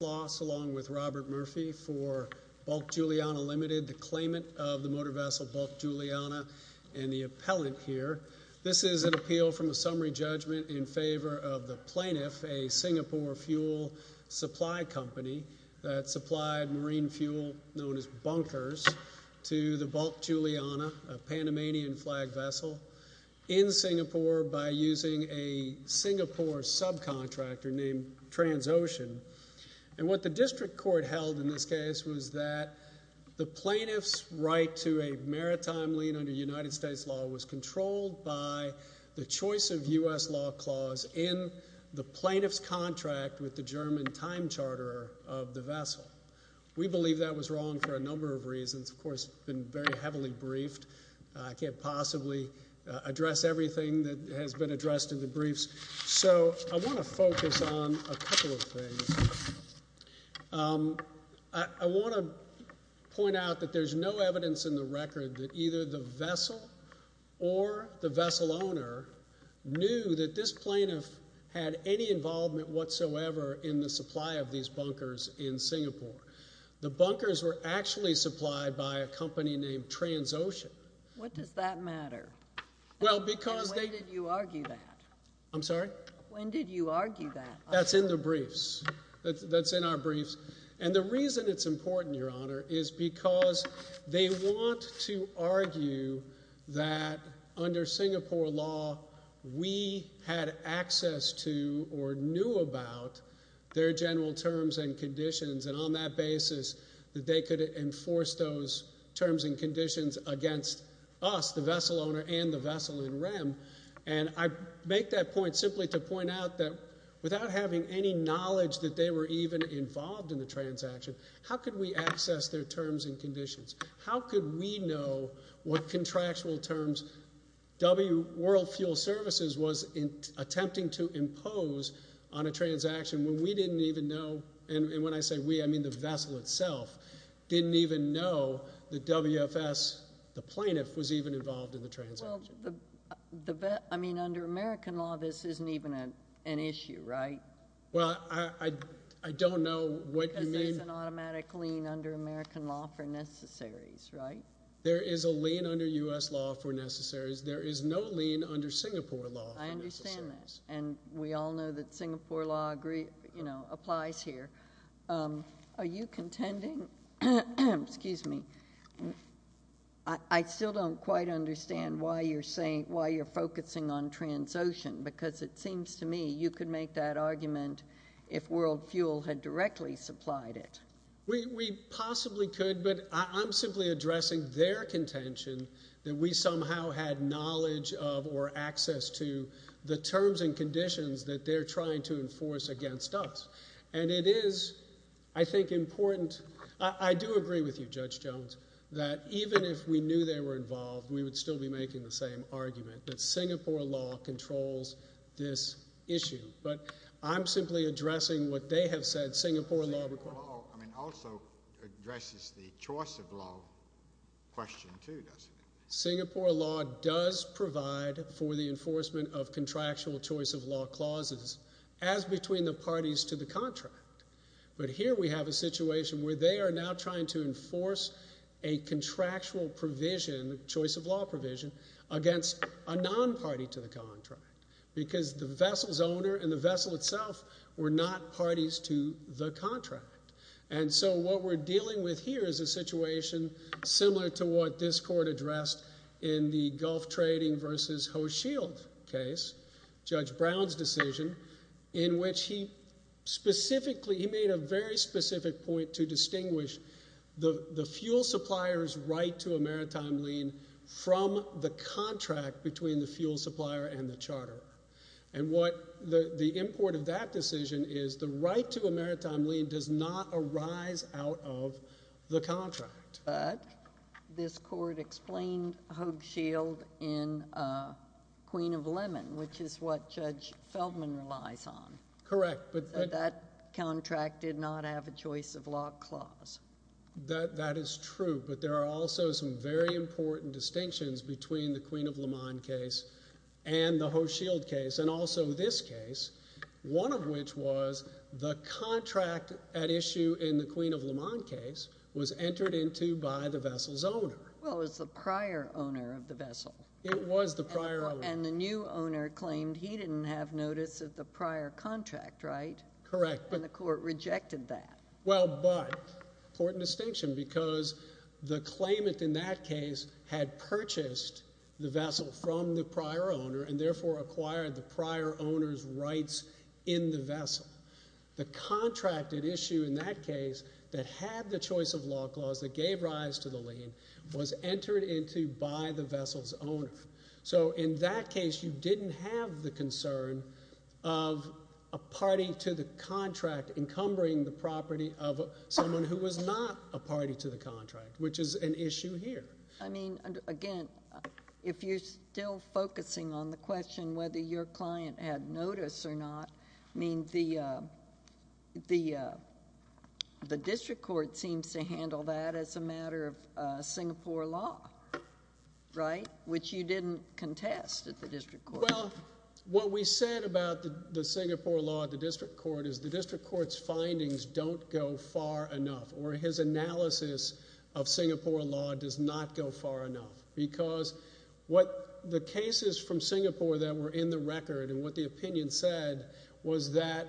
along with Robert Murphy for Bulk Juliana Limited, the claimant of the motor vessel Bulk Juliana and the appellant here. This is an appeal from a summary judgment in favor of the plaintiff, a Singapore fuel supply company that supplied marine fuel known as bunkers to the Bulk Juliana, a Panamanian flag vessel in Singapore by using a Singapore subcontractor named Transocean. And what the district court held in this case was that the plaintiff's right to a maritime lien under United States law was controlled by the choice of US law clause in the plaintiff's contract with the German time charter of the vessel. We believe that was wrong for a number of reasons. Of course, it's been very heavily briefed. I can't possibly address everything that has been addressed in the briefs. So I want to focus on a couple of things. I want to point out that there's no evidence in the record that either the vessel or the vessel owner knew that this plaintiff had any involvement whatsoever in the supply of these bunkers in Singapore. The bunkers were actually supplied by a company named Transocean. What does that matter? Well, because they- And why did you argue that? I'm sorry? When did you argue that? That's in the briefs. That's in our briefs. And the reason it's important, Your Honor, is because they want to argue that under Singapore law, we had access to or knew about their general terms and conditions. And on that basis, that they could enforce those terms and conditions against us, the vessel owner and the vessel in REM. And I make that point simply to point out that without having any knowledge that they were even involved in the transaction, how could we access their terms and conditions? How could we know what contractual terms W World Fuel Services was attempting to impose on a transaction when we didn't even know? And when I say we, I mean the vessel itself didn't even know that WFS, the plaintiff, was even involved in the transaction. Well, I mean, under American law, this isn't even an issue, right? Well, I don't know what you mean. Because there's an automatic lien under American law for necessaries, right? There is a lien under U.S. law for necessaries. There is no lien under Singapore law for necessaries. I understand that. And we all know that Singapore law applies here. Are you contending, excuse me, I still don't quite understand why you're saying, why you're focusing on transaction because it seems to me you could make that argument if World Fuel had directly supplied it. We possibly could, but I'm simply addressing their contention that we somehow had knowledge of or access to the terms and conditions that they're trying to enforce against us. And it is, I think, important. I do agree with you, Judge Jones, that even if we knew they were involved, we would still be making the same argument that Singapore law controls this issue. But I'm simply addressing what they have said Singapore law requires. I mean, also addresses the choice of law question too, doesn't it? Singapore law does provide for the enforcement of contractual choice of law clauses as between the parties to the contract. But here we have a situation where they are now trying to enforce a contractual provision, choice of law provision, against a non-party to the contract because the vessel's owner and the vessel itself were not parties to the contract. And so what we're dealing with here is a situation similar to what this court addressed in the Gulf Trading versus Ho Shield case, Judge Brown's decision, in which he specifically, he made a very specific point to distinguish the fuel supplier's right to a maritime lien from the contract between the fuel supplier and the charterer. And what the import of that decision is, the right to a maritime lien does not arise out of the contract. But this court explained Ho Shield in Queen of Lemon, which is what Judge Feldman relies on. Correct. But that contract did not have a choice of law clause. That is true, but there are also some very important distinctions between the Queen of Lemon case and the Ho Shield case, and also this case, one of which was the contract at issue in the Queen of Lemon case was entered into by the vessel's owner. Well, it was the prior owner of the vessel. It was the prior owner. And the new owner claimed he didn't have notice of the prior contract, right? Correct. And the court rejected that. Well, but, important distinction, because the claimant in that case had purchased the vessel from the prior owner and therefore acquired the prior owner's rights in the vessel. The contract at issue in that case that had the choice of law clause that gave rise to the lien was entered into by the vessel's owner. So in that case, you didn't have the concern of a party to the contract encumbering the property of someone who was not a party to the contract, which is an issue here. I mean, again, if you're still focusing on the question whether your client had notice or not, I mean, the district court seems to handle that as a matter of Singapore law, right? Which you didn't contest at the district court. Well, what we said about the Singapore law at the district court is the district court's findings don't go far enough, or his analysis of Singapore law does not go far enough. Because what the cases from Singapore that were in the record and what the opinion said was that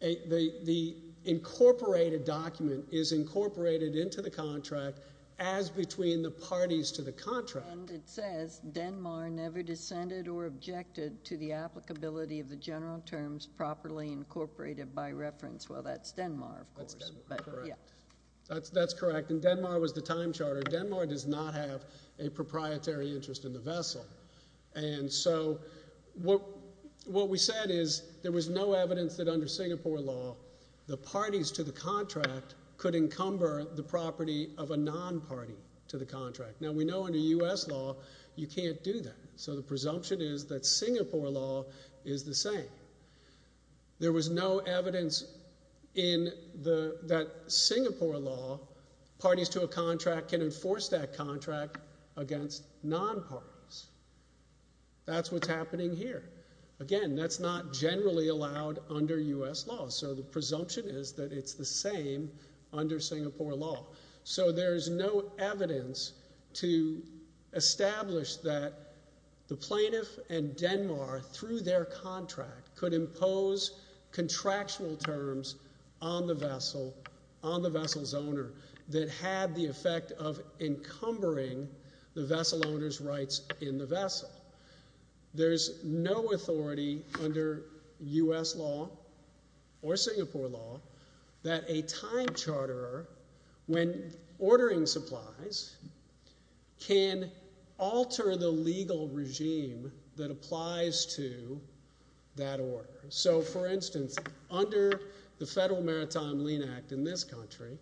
the incorporated document is incorporated into the contract as between the parties to the contract. And it says Denmark never dissented or objected to the applicability of the general terms properly incorporated by reference. Well, that's Denmark, of course, but yeah. That's correct. And Denmark was the time charter. Denmark does not have a proprietary interest in the vessel. And so what we said is there was no evidence that under Singapore law, the parties to the contract could encumber the property of a non-party to the contract. Now we know under US law, you can't do that. So the presumption is that Singapore law is the same. There was no evidence that Singapore law, parties to a contract can enforce that contract against non-parties. That's what's happening here. Again, that's not generally allowed under US law. So the presumption is that it's the same under Singapore law. So there's no evidence to establish that the plaintiff and Denmark, through their contract, could impose contractual terms on the vessel, on the vessel's owner, that had the effect of encumbering the vessel owner's rights in the vessel. There's no authority under US law or Singapore law that a time charterer, when ordering supplies, can alter the legal regime that applies to that order. So for instance, under the Federal Maritime Lean Act in this country,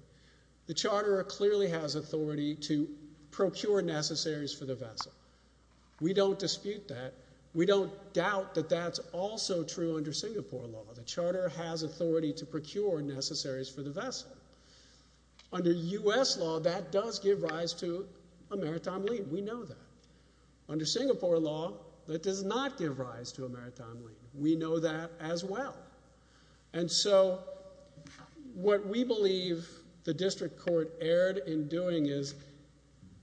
the charterer clearly has authority to procure necessaries for the vessel. We don't dispute that. We don't doubt that that's also true under Singapore law. The charterer has authority to procure necessaries for the vessel. Under US law, that does give rise to a maritime lien. We know that. Under Singapore law, that does not give rise to a maritime lien. We know that as well. And so what we believe the district court erred in doing is,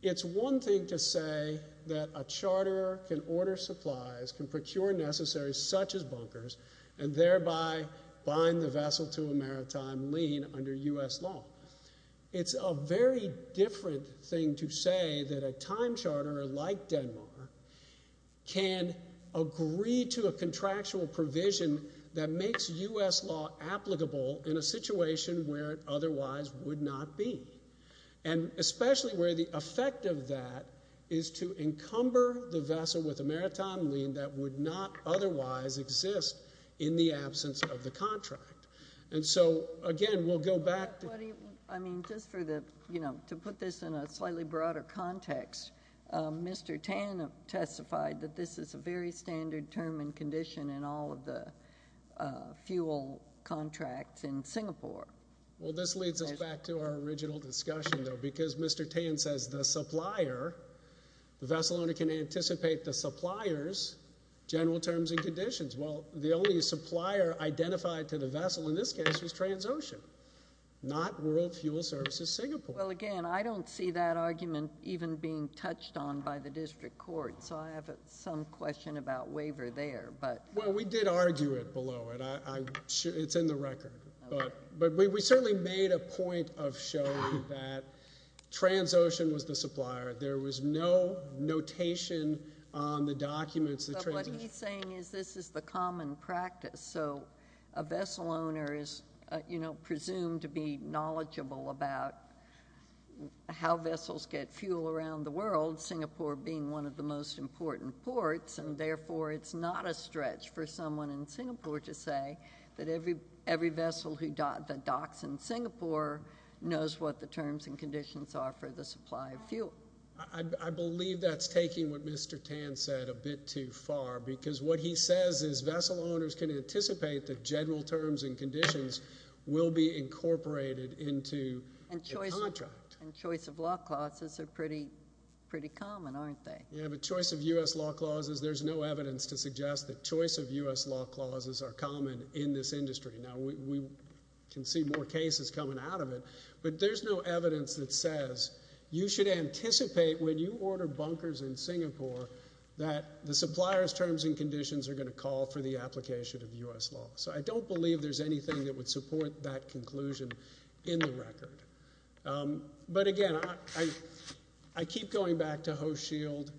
it's one thing to say that a charterer can order supplies, can procure necessaries such as bunkers, and thereby bind the vessel to a maritime lien under US law. It's a very different thing to say that a time charterer like Denmark can agree to a contractual provision that makes US law applicable in a situation where it otherwise would not be. And especially where the effect of that is to encumber the vessel with a maritime lien that would not otherwise exist in the absence of the contract. And so again, we'll go back to- I mean, just for the, you know, to put this in a slightly broader context, Mr. Tan testified that this is a very standard term and condition in all of the fuel contracts in Singapore. Well, this leads us back to our original discussion though, because Mr. Tan says the supplier, the vessel owner can anticipate the supplier's general terms and conditions. Well, the only supplier identified to the vessel in this case was Transocean, not World Fuel Services Singapore. Well, again, I don't see that argument even being touched on by the district court. So I have some question about waiver there, but- Well, we did argue it below it. It's in the record, but we certainly made a point of showing that Transocean was the supplier. There was no notation on the documents that Transocean- But what he's saying is this is the common practice. So a vessel owner is, you know, presumed to be knowledgeable about how vessels get fuel around the world, Singapore being one of the most important ports, and therefore it's not a stretch for someone in Singapore to say that every vessel that docks in Singapore knows what the terms and conditions are for the supply of fuel. I believe that's taking what Mr. Tan said a bit too far, because what he says is vessel owners can anticipate that general terms and conditions will be incorporated into the contract. And choice of law clauses are pretty common, aren't they? Yeah, but choice of US law clauses, there's no evidence to suggest that choice of US law clauses are common in this industry. Now, we can see more cases coming out of it, but there's no evidence that says you should anticipate when you order bunkers in Singapore that the supplier's terms and conditions are gonna call for the application of US law. So I don't believe there's anything that would support that conclusion in the record. But again, I keep going back to Hohschild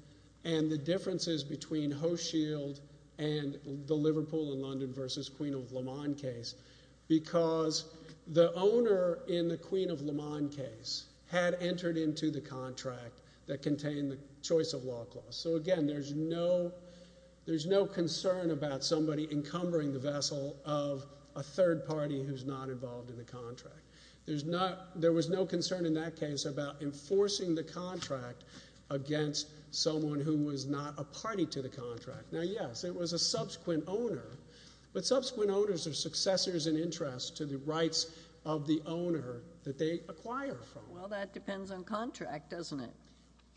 and the differences between Hohschild and the Liverpool and London versus Queen of Le Mans case, because the owner in the Queen of Le Mans case had entered into the contract that contained the choice of law clause. So again, there's no concern about somebody encumbering the vessel of a third party who's not involved in the contract. There was no concern in that case about enforcing the contract against someone who was not a party to the contract. Now, yes, it was a subsequent owner, but subsequent owners are successors in interest to the rights of the owner that they acquire from. Well, that depends on contract, doesn't it?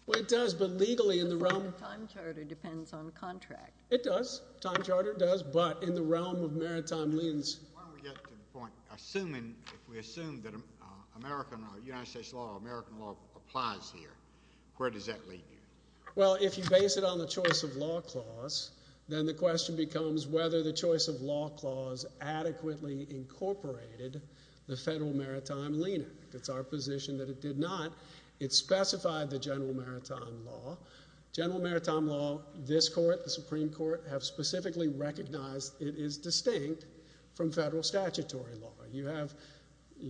Well, it does, but legally in the realm- The form of time charter depends on contract. It does, time charter does, but in the realm of maritime liens. Why don't we get to the point, assuming if we assume that American law, United States law, American law applies here, where does that lead you? Well, if you base it on the choice of law clause, then the question becomes whether the choice of law clause adequately incorporated the Federal Maritime Lien Act. It's our position that it did not. It specified the General Maritime Law. General Maritime Law, this court, the Supreme Court, have specifically recognized it is distinct from federal statutory law. You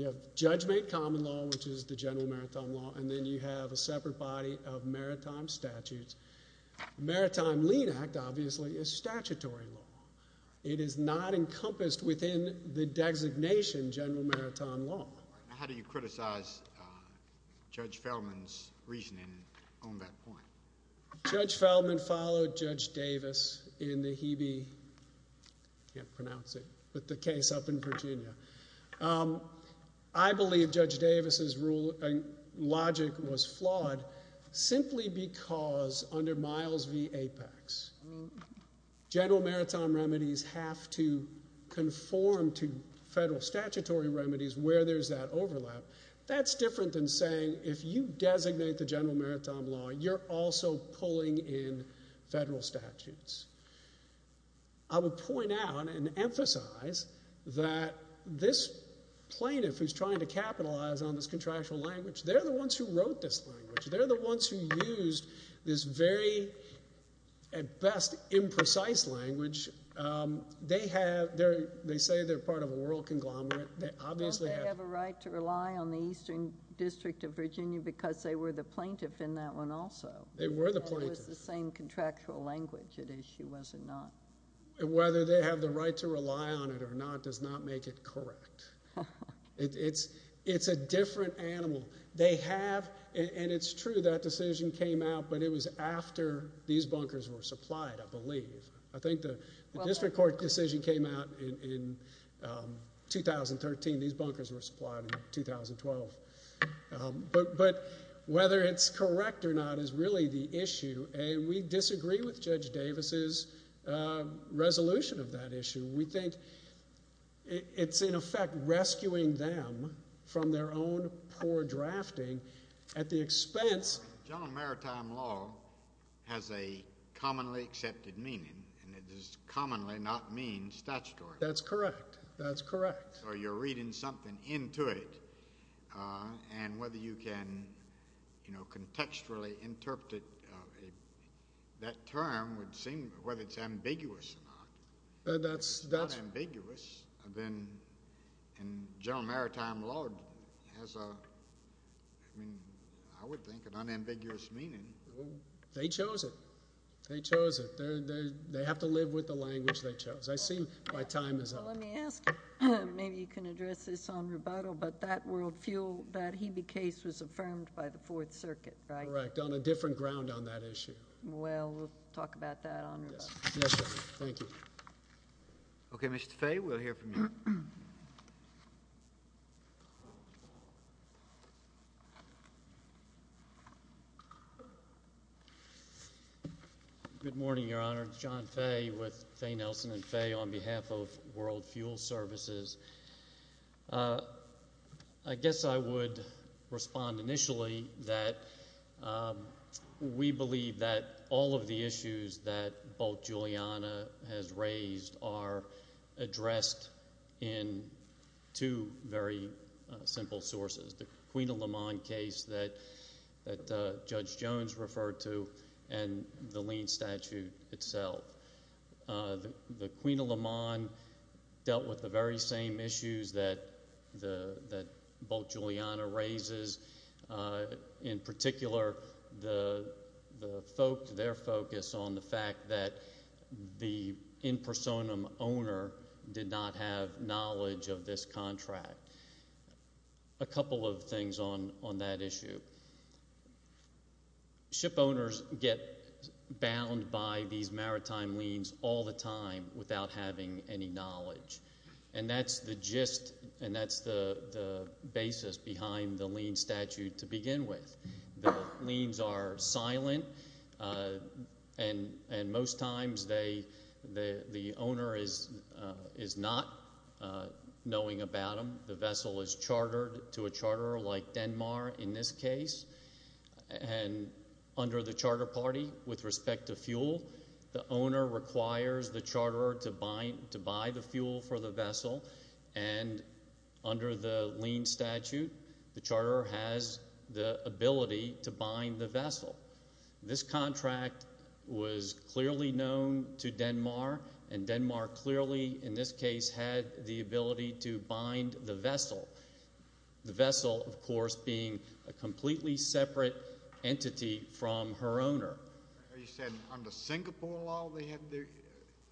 have judge-made common law, which is the General Maritime Law, and then you have a separate body of maritime statutes. Maritime Lien Act, obviously, is statutory law. It is not encompassed within the designation General Maritime Law. How do you criticize Judge Feldman's reasoning on that point? Judge Feldman followed Judge Davis in the Hebe, can't pronounce it, but the case up in Virginia. I believe Judge Davis's logic was flawed simply because under Miles v. Apex, General Maritime Remedies have to conform to federal statutory remedies where there's that overlap. That's different than saying, if you designate the General Maritime Law, you're also pulling in federal statutes. I would point out and emphasize that this plaintiff who's trying to capitalize on this contractual language, they're the ones who wrote this language. They're the ones who used this very, at best, imprecise language. They say they're part of a world conglomerate. They obviously have- Don't they have a right to rely on the Eastern District of Virginia because they were the plaintiff in that one also? They were the plaintiff. And it was the same contractual language it issued, was it not? Whether they have the right to rely on it or not does not make it correct. It's a different animal. They have, and it's true that decision came out, but it was after these bunkers were supplied, I believe. I think the district court decision came out in 2013. These bunkers were supplied in 2012. But whether it's correct or not is really the issue. And we disagree with Judge Davis's resolution of that issue. We think it's in effect rescuing them from their own poor drafting at the expense- General Maritime Law has a commonly accepted meaning, and it does commonly not mean statutory. That's correct, that's correct. Or you're reading something into it. And whether you can, you know, contextually interpret it, that term would seem, whether it's ambiguous or not. That's- If it's not ambiguous, then General Maritime Law has a, I mean, I would think an unambiguous meaning. They chose it. They chose it. They have to live with the language they chose. I see my time is up. Well, let me ask you, maybe you can address this on rebuttal, but that world fuel, that Hebe case was affirmed by the Fourth Circuit, right? Correct, on a different ground on that issue. Well, we'll talk about that on rebuttal. Yes, sir, thank you. Okay, Mr. Fay, we'll hear from you. Good morning, Your Honor. John Fay with Fay Nelson and Fay on behalf of World Fuel Services. I guess I would respond initially that we believe that all of the issues that Bolt Giuliana has raised are addressed in two very simple sources, the Queen of LeMond case that Judge Jones referred to, and the lien statute itself. The Queen of LeMond dealt with the very same issues that Bolt Giuliana raises. In particular, their focus on the fact that the in personam owner did not have knowledge of this contract. A couple of things on that issue. Ship owners get bound by these maritime liens all the time without having any knowledge, and that's the gist, and that's the basis behind the lien statute to begin with. The liens are silent, and most times the owner is not knowing about them. The vessel is chartered to a charterer like Denmark in this case, and under the charter party, with respect to fuel, the owner requires the charterer to buy the fuel for the vessel, and under the lien statute, the charterer has the ability to bind the vessel. This contract was clearly known to Denmark, and Denmark clearly, in this case, had the ability to bind the vessel. The vessel, of course, being a completely separate entity from her owner. You said under Singapore law, they had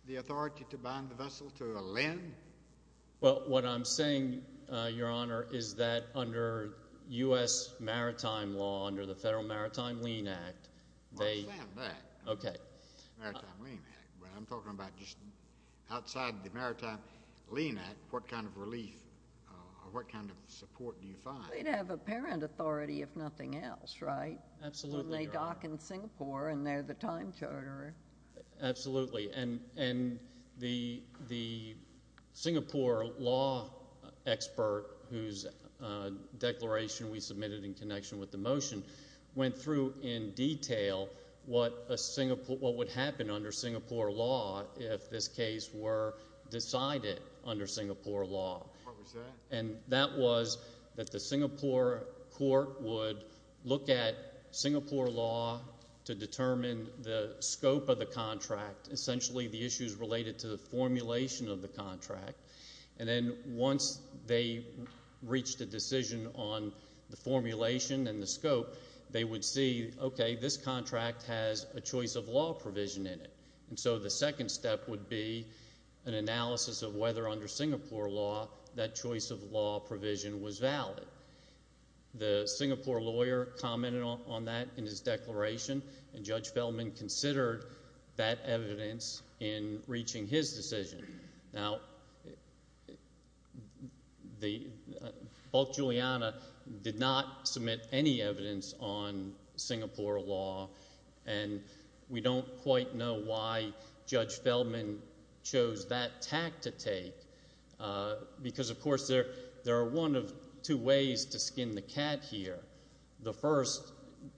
the authority to bind the vessel to a lien? Well, what I'm saying, Your Honor, is that under U.S. Maritime law, under the Federal Maritime Lien Act, they- I understand that. Okay. Maritime Lien Act, but I'm talking about just outside the Maritime Lien Act, what kind of relief, or what kind of support do you find? They'd have apparent authority, if nothing else, right? Absolutely. And they dock in Singapore, and they're the time charterer. Absolutely, and the Singapore law expert whose declaration we submitted in connection with the motion went through in detail what would happen under Singapore law if this case were decided under Singapore law. What was that? And that was that the Singapore court would look at Singapore law to determine the scope of the contract, essentially the issues related to the formulation of the contract, and then once they reached a decision on the formulation and the scope, they would see, okay, this contract has a choice of law provision in it, and so the second step would be an analysis of whether under Singapore law that choice of law provision was valid. The Singapore lawyer commented on that in his declaration, and Judge Feldman considered that evidence in reaching his decision. Now, Bulk Giuliana did not submit any evidence on Singapore law, and we don't quite know why Judge Feldman chose that tact to take, because, of course, there are one of two ways to skin the cat here. The first,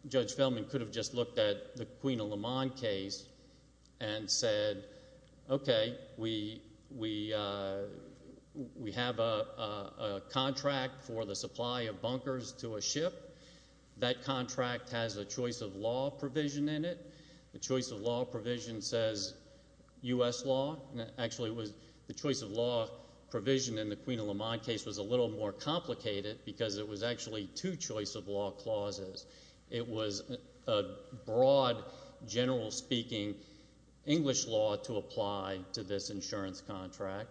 Judge Feldman could have just looked at the Queen of Le Mans case and said, okay, we have a contract for the supply of bunkers to a ship. That contract has a choice of law provision in it. The choice of law provision says U.S. law. Actually, the choice of law provision in the Queen of Le Mans case was a little more complicated because it was actually two choice of law clauses. It was a broad, general-speaking English law to apply to this insurance contract.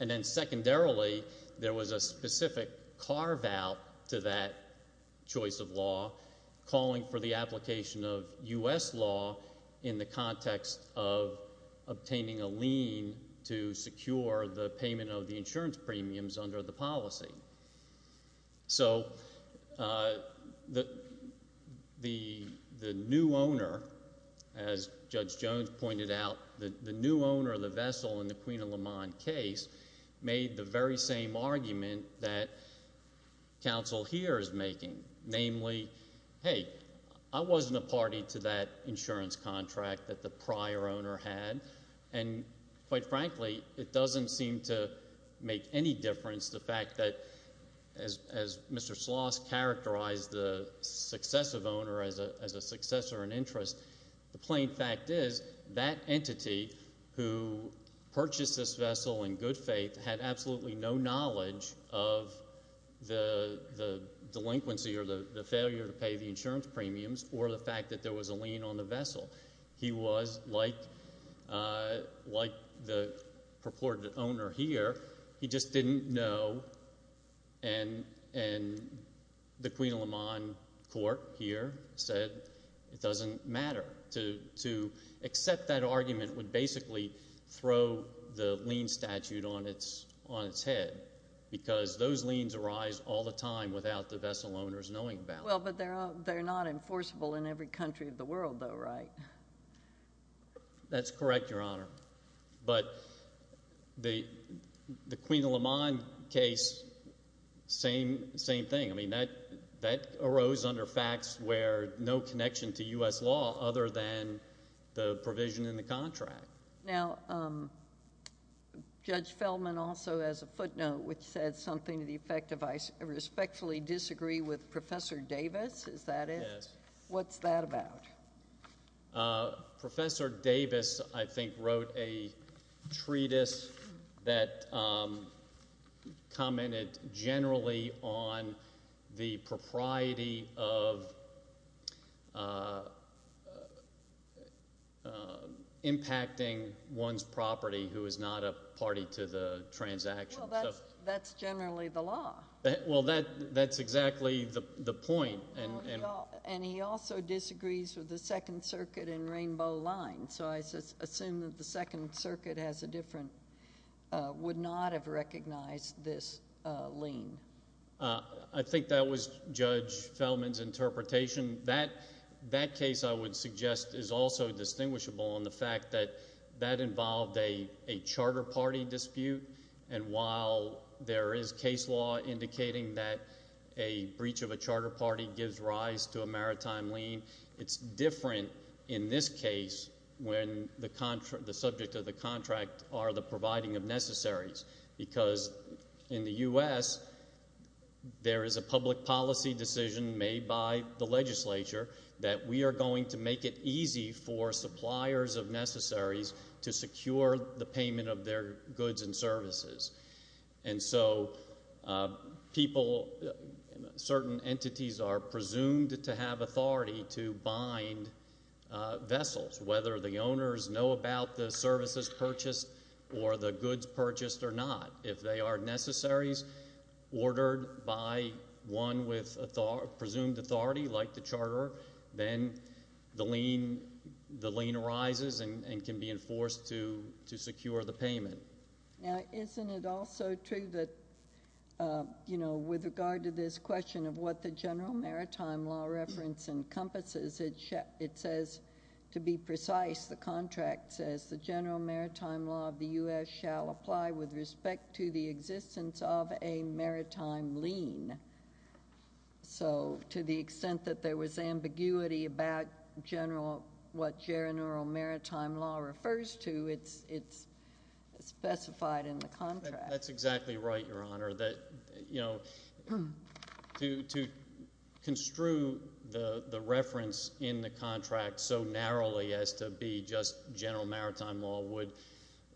And then, secondarily, there was a specific carve-out to that choice of law, calling for the application of U.S. law in the context of obtaining a lien to secure the payment of the insurance premiums under the policy. So, the new owner, as Judge Jones pointed out, the new owner of the vessel in the Queen of Le Mans case made the very same argument that counsel here is making, namely, hey, I wasn't a party to that insurance contract that the prior owner had, and, quite frankly, it doesn't seem to make any difference the fact that, as Mr. Sloss characterized the successive owner as a successor in interest, the plain fact is that entity who purchased this vessel in good faith had absolutely no knowledge of the delinquency or the failure to pay the insurance premiums or the fact that there was a lien on the vessel. He was, like the purported owner here, he just didn't know, and the Queen of Le Mans court here said it doesn't matter. To accept that argument would basically throw the lien statute on its head because those liens arise all the time without the vessel owners knowing about it. Well, but they're not enforceable in every country of the world, though, right? That's correct, Your Honor. But the Queen of Le Mans case, same thing. I mean, that arose under facts where no connection to U.S. law other than the provision in the contract. Now, Judge Feldman also has a footnote which said something to the effect of I respectfully disagree with Professor Davis. Is that it? Yes. What's that about? Professor Davis, I think, wrote a treatise that commented generally on the propriety of impacting one's property who is not a party to the transaction. Well, that's generally the law. Well, that's exactly the point. And he also disagrees with the Second Circuit and Rainbow Line, so I assume that the Second Circuit has a different, would not have recognized this lien. I think that was Judge Feldman's interpretation. That case, I would suggest, is also distinguishable in the fact that that involved a charter party dispute, and while there is case law indicating that a breach of a charter party gives rise to a maritime lien, it's different in this case when the subject of the contract are the providing of necessaries because in the U.S., there is a public policy decision made by the legislature that we are going to make it easy for suppliers of necessaries to secure the payment of their goods and services. And so people, certain entities, are presumed to have authority to bind vessels, whether the owners know about the services purchased or the goods purchased or not. If they are necessaries ordered by one with presumed authority, like the charterer, then the lien arises and can be enforced to secure the payment. Now, isn't it also true that, you know, with regard to this question of what the general maritime law reference encompasses, it says, to be precise, the contract says the general maritime law of the U.S. shall apply with respect to the existence of a maritime lien. So to the extent that there was ambiguity about general, what gerineural maritime law refers to, it's specified in the contract. That's exactly right, Your Honor. That, you know, to construe the reference in the contract so narrowly as to be just general maritime law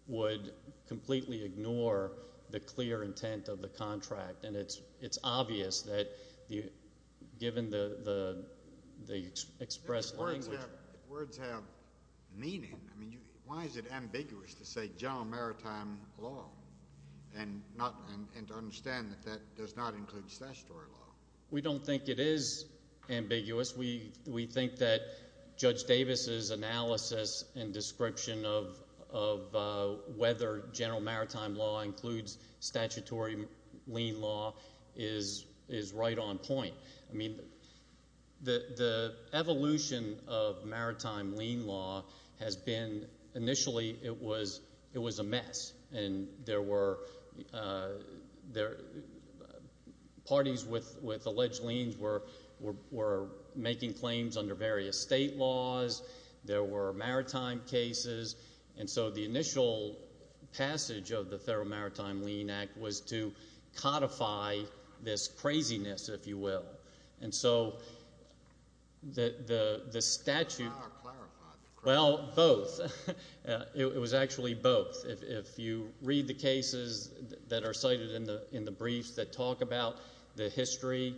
would completely ignore the clear intent of the contract. And it's obvious that given the expressed language. Words have meaning. I mean, why is it ambiguous to say general maritime law and to understand that that does not include statutory law? We don't think it is ambiguous. We think that Judge Davis's analysis and description of whether general maritime law includes statutory lien law is right on point. I mean, the evolution of maritime lien law has been, initially, it was a mess. And there were parties with alleged liens were making claims under various state laws. There were maritime cases. And so the initial passage of the Federal Maritime Lien Act was to codify this craziness, if you will. And so the statute. Well, both. It was actually both. If you read the cases that are cited in the briefs that talk about the history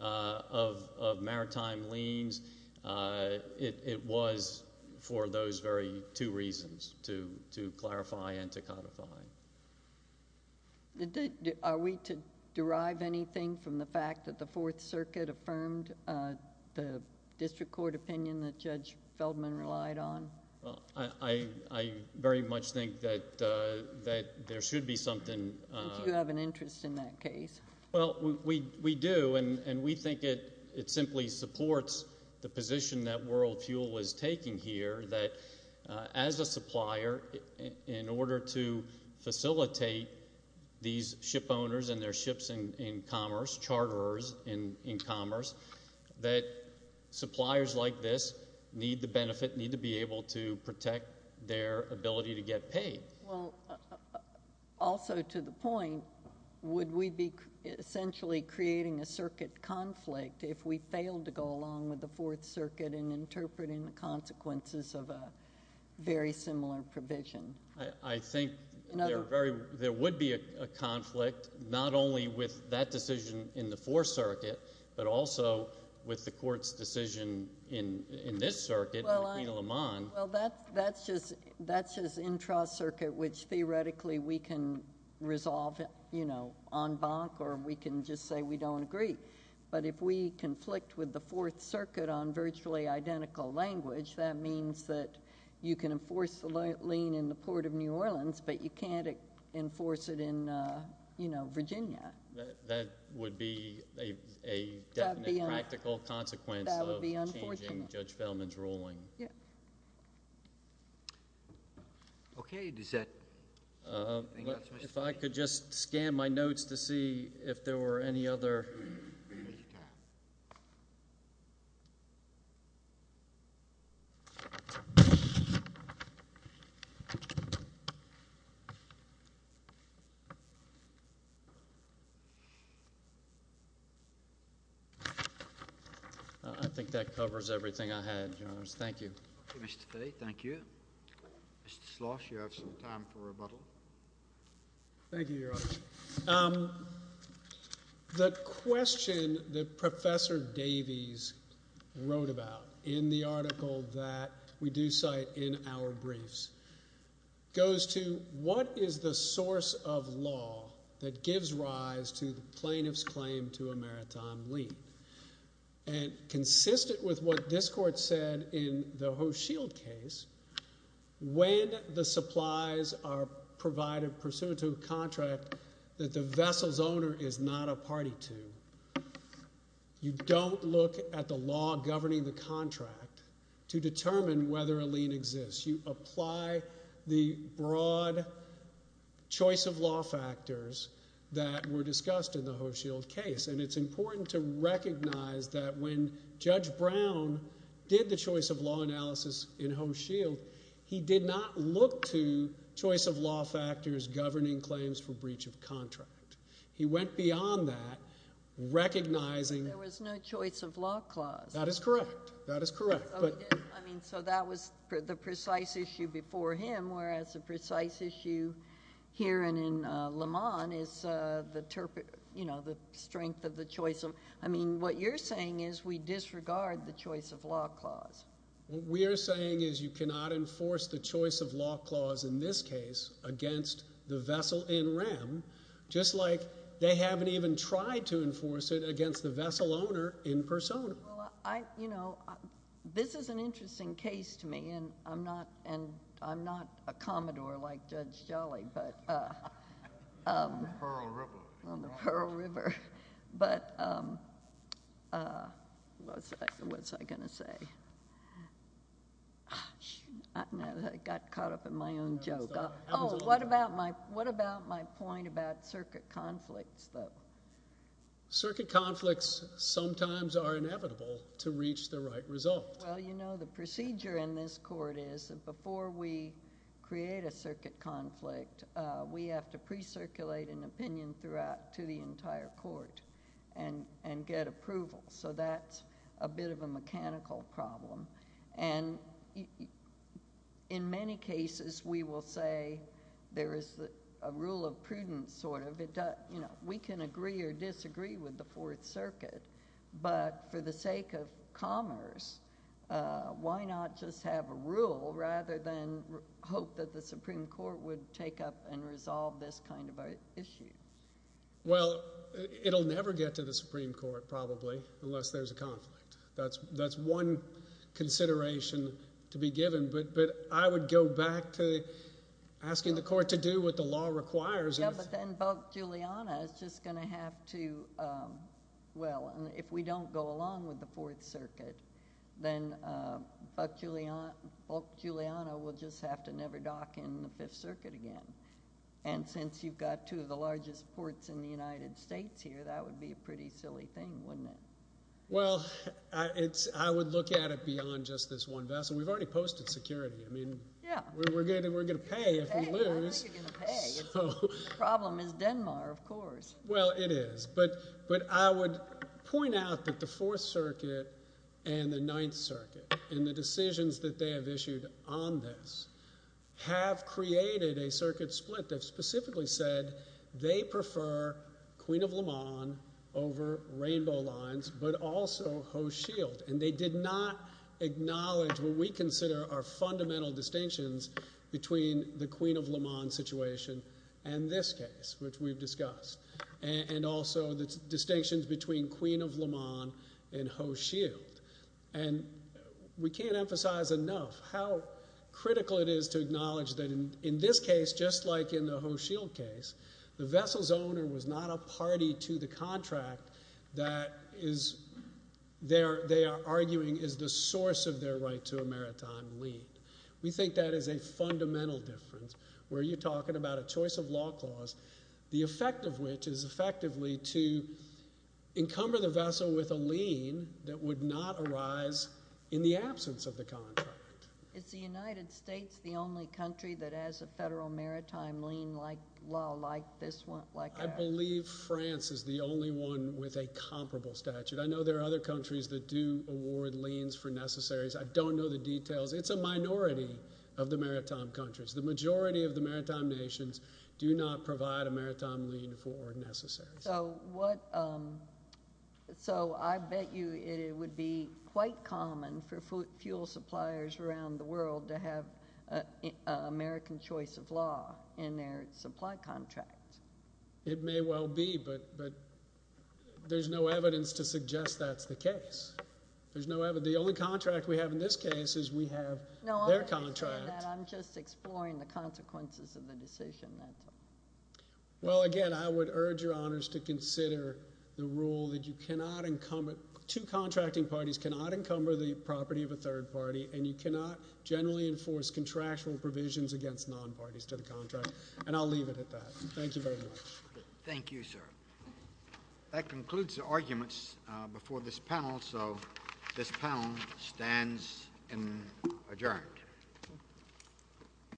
of maritime liens, it was for those very two reasons, to clarify and to codify. Are we to derive anything from the fact that the Fourth Circuit affirmed the district court opinion that Judge Feldman relied on? Well, I very much think that there should be something. Do you have an interest in that case? Well, we do, and we think it simply supports the position that World Fuel was taking here that, as a supplier, in order to facilitate these ship owners and their ships in commerce, charterers in commerce, that suppliers like this need the benefit, need to be able to protect their ability to get paid. Well, also to the point, would we be essentially creating a circuit conflict if we failed to go along with the Fourth Circuit in interpreting the consequences of a very similar provision? I think there would be a conflict, not only with that decision in the Fourth Circuit, but also with the court's decision in this circuit, in Aquino-Lamont. Well, that's just intra-circuit, which theoretically we can resolve en banc, or we can just say we don't agree. But if we conflict with the Fourth Circuit on virtually identical language, that means that you can enforce the lien in the Port of New Orleans, but you can't enforce it in Virginia. That would be a definite practical consequence of changing Judge Feldman's ruling. Yeah. Okay, does that... If I could just scan my notes to see if there were any other... I think that covers everything I had, Your Honors. Thank you. Okay, Mr. Fahy, thank you. Mr. Schloss, you have some time for rebuttal. Thank you, Your Honor. The question that Professor Davies wrote about in the article that we do cite in our briefs in the interpretation of the Fourth Circuit? What is the source of law that gives rise to the plaintiff's claim to a maritime lien? And consistent with what this court said in the Ho Shield case, when the supplies are provided pursuant to a contract that the vessel's owner is not a party to, you don't look at the law governing the contract to determine whether a lien exists. You apply the broad choice of law factors that were discussed in the Ho Shield case. And it's important to recognize that when Judge Brown did the choice of law analysis in Ho Shield, he did not look to choice of law factors governing claims for breach of contract. He went beyond that, recognizing... There was no choice of law clause. That is correct. That is correct. So that was the precise issue before him, whereas the precise issue here and in Lamont is the strength of the choice of... I mean, what you're saying is we disregard the choice of law clause. What we are saying is you cannot enforce the choice of law clause in this case against the vessel in rem, just like they haven't even tried to enforce it against the vessel owner in persona. I, you know, this is an interesting case to me and I'm not a commodore like Judge Jolly, but... I'm a Pearl River. But what was I gonna say? I got caught up in my own joke. Oh, what about my point about circuit conflicts, though? Circuit conflicts sometimes are inevitable to reach the right result. Well, you know, the procedure in this court is that before we create a circuit conflict, we have to pre-circulate an opinion throughout to the entire court and get approval. So that's a bit of a mechanical problem. And in many cases, we will say there is a rule of prudence, sort of. We can agree or disagree with the Fourth Circuit, but for the sake of commerce, why not just have a rule rather than hope that the Supreme Court would take up and resolve this kind of issue? Well, it'll never get to the Supreme Court, probably, unless there's a conflict. That's one consideration to be given. But I would go back to asking the court to do what the law requires. Yeah, but then Bulk Giuliano is just gonna have to, well, if we don't go along with the Fourth Circuit, then Bulk Giuliano will just have to never dock in the Fifth Circuit again. And since you've got two of the largest ports in the United States here, that would be a pretty silly thing, wouldn't it? Well, I would look at it beyond just this one vessel. We've already posted security. I mean, we're gonna pay if we lose. I don't think you're gonna pay. The problem is Denmark, of course. Well, it is. But I would point out that the Fourth Circuit and the Ninth Circuit and the decisions that they have issued on this have created a circuit split that specifically said they prefer Queen of Le Mans over Rainbow Lines, but also Ho Shield. And they did not acknowledge what we consider are fundamental distinctions between the Queen of Le Mans situation and this case, which we've discussed, and also the distinctions between Queen of Le Mans and Ho Shield. And we can't emphasize enough how critical it is to acknowledge that in this case, just like in the Ho Shield case, the vessel's owner was not a party to the contract that they are arguing is the source of their right to a maritime lien. We think that is a fundamental difference, where you're talking about a choice of law clause, the effect of which is effectively to encumber the vessel with a lien that would not arise in the absence of the contract. Is the United States the only country that has a federal maritime lien law like this one? I believe France is the only one with a comparable statute. I know there are other countries that do award liens for necessaries, I don't know the details. It's a minority of the maritime countries. The majority of the maritime nations do not provide a maritime lien for necessaries. So what, so I bet you it would be quite common for fuel suppliers around the world to have American choice of law in their supply contracts. It may well be, but there's no evidence to suggest that's the case. There's no evidence. The only contract we have in this case is we have their contract. I'm just exploring the consequences of the decision. Well, again, I would urge your honors to consider the rule that you cannot encumber, two contracting parties cannot encumber the property of a third party, and you cannot generally enforce contractual provisions against non-parties to the contract. And I'll leave it at that. Thank you very much. Thank you, sir. That concludes the arguments before this panel. So this panel stands adjourned.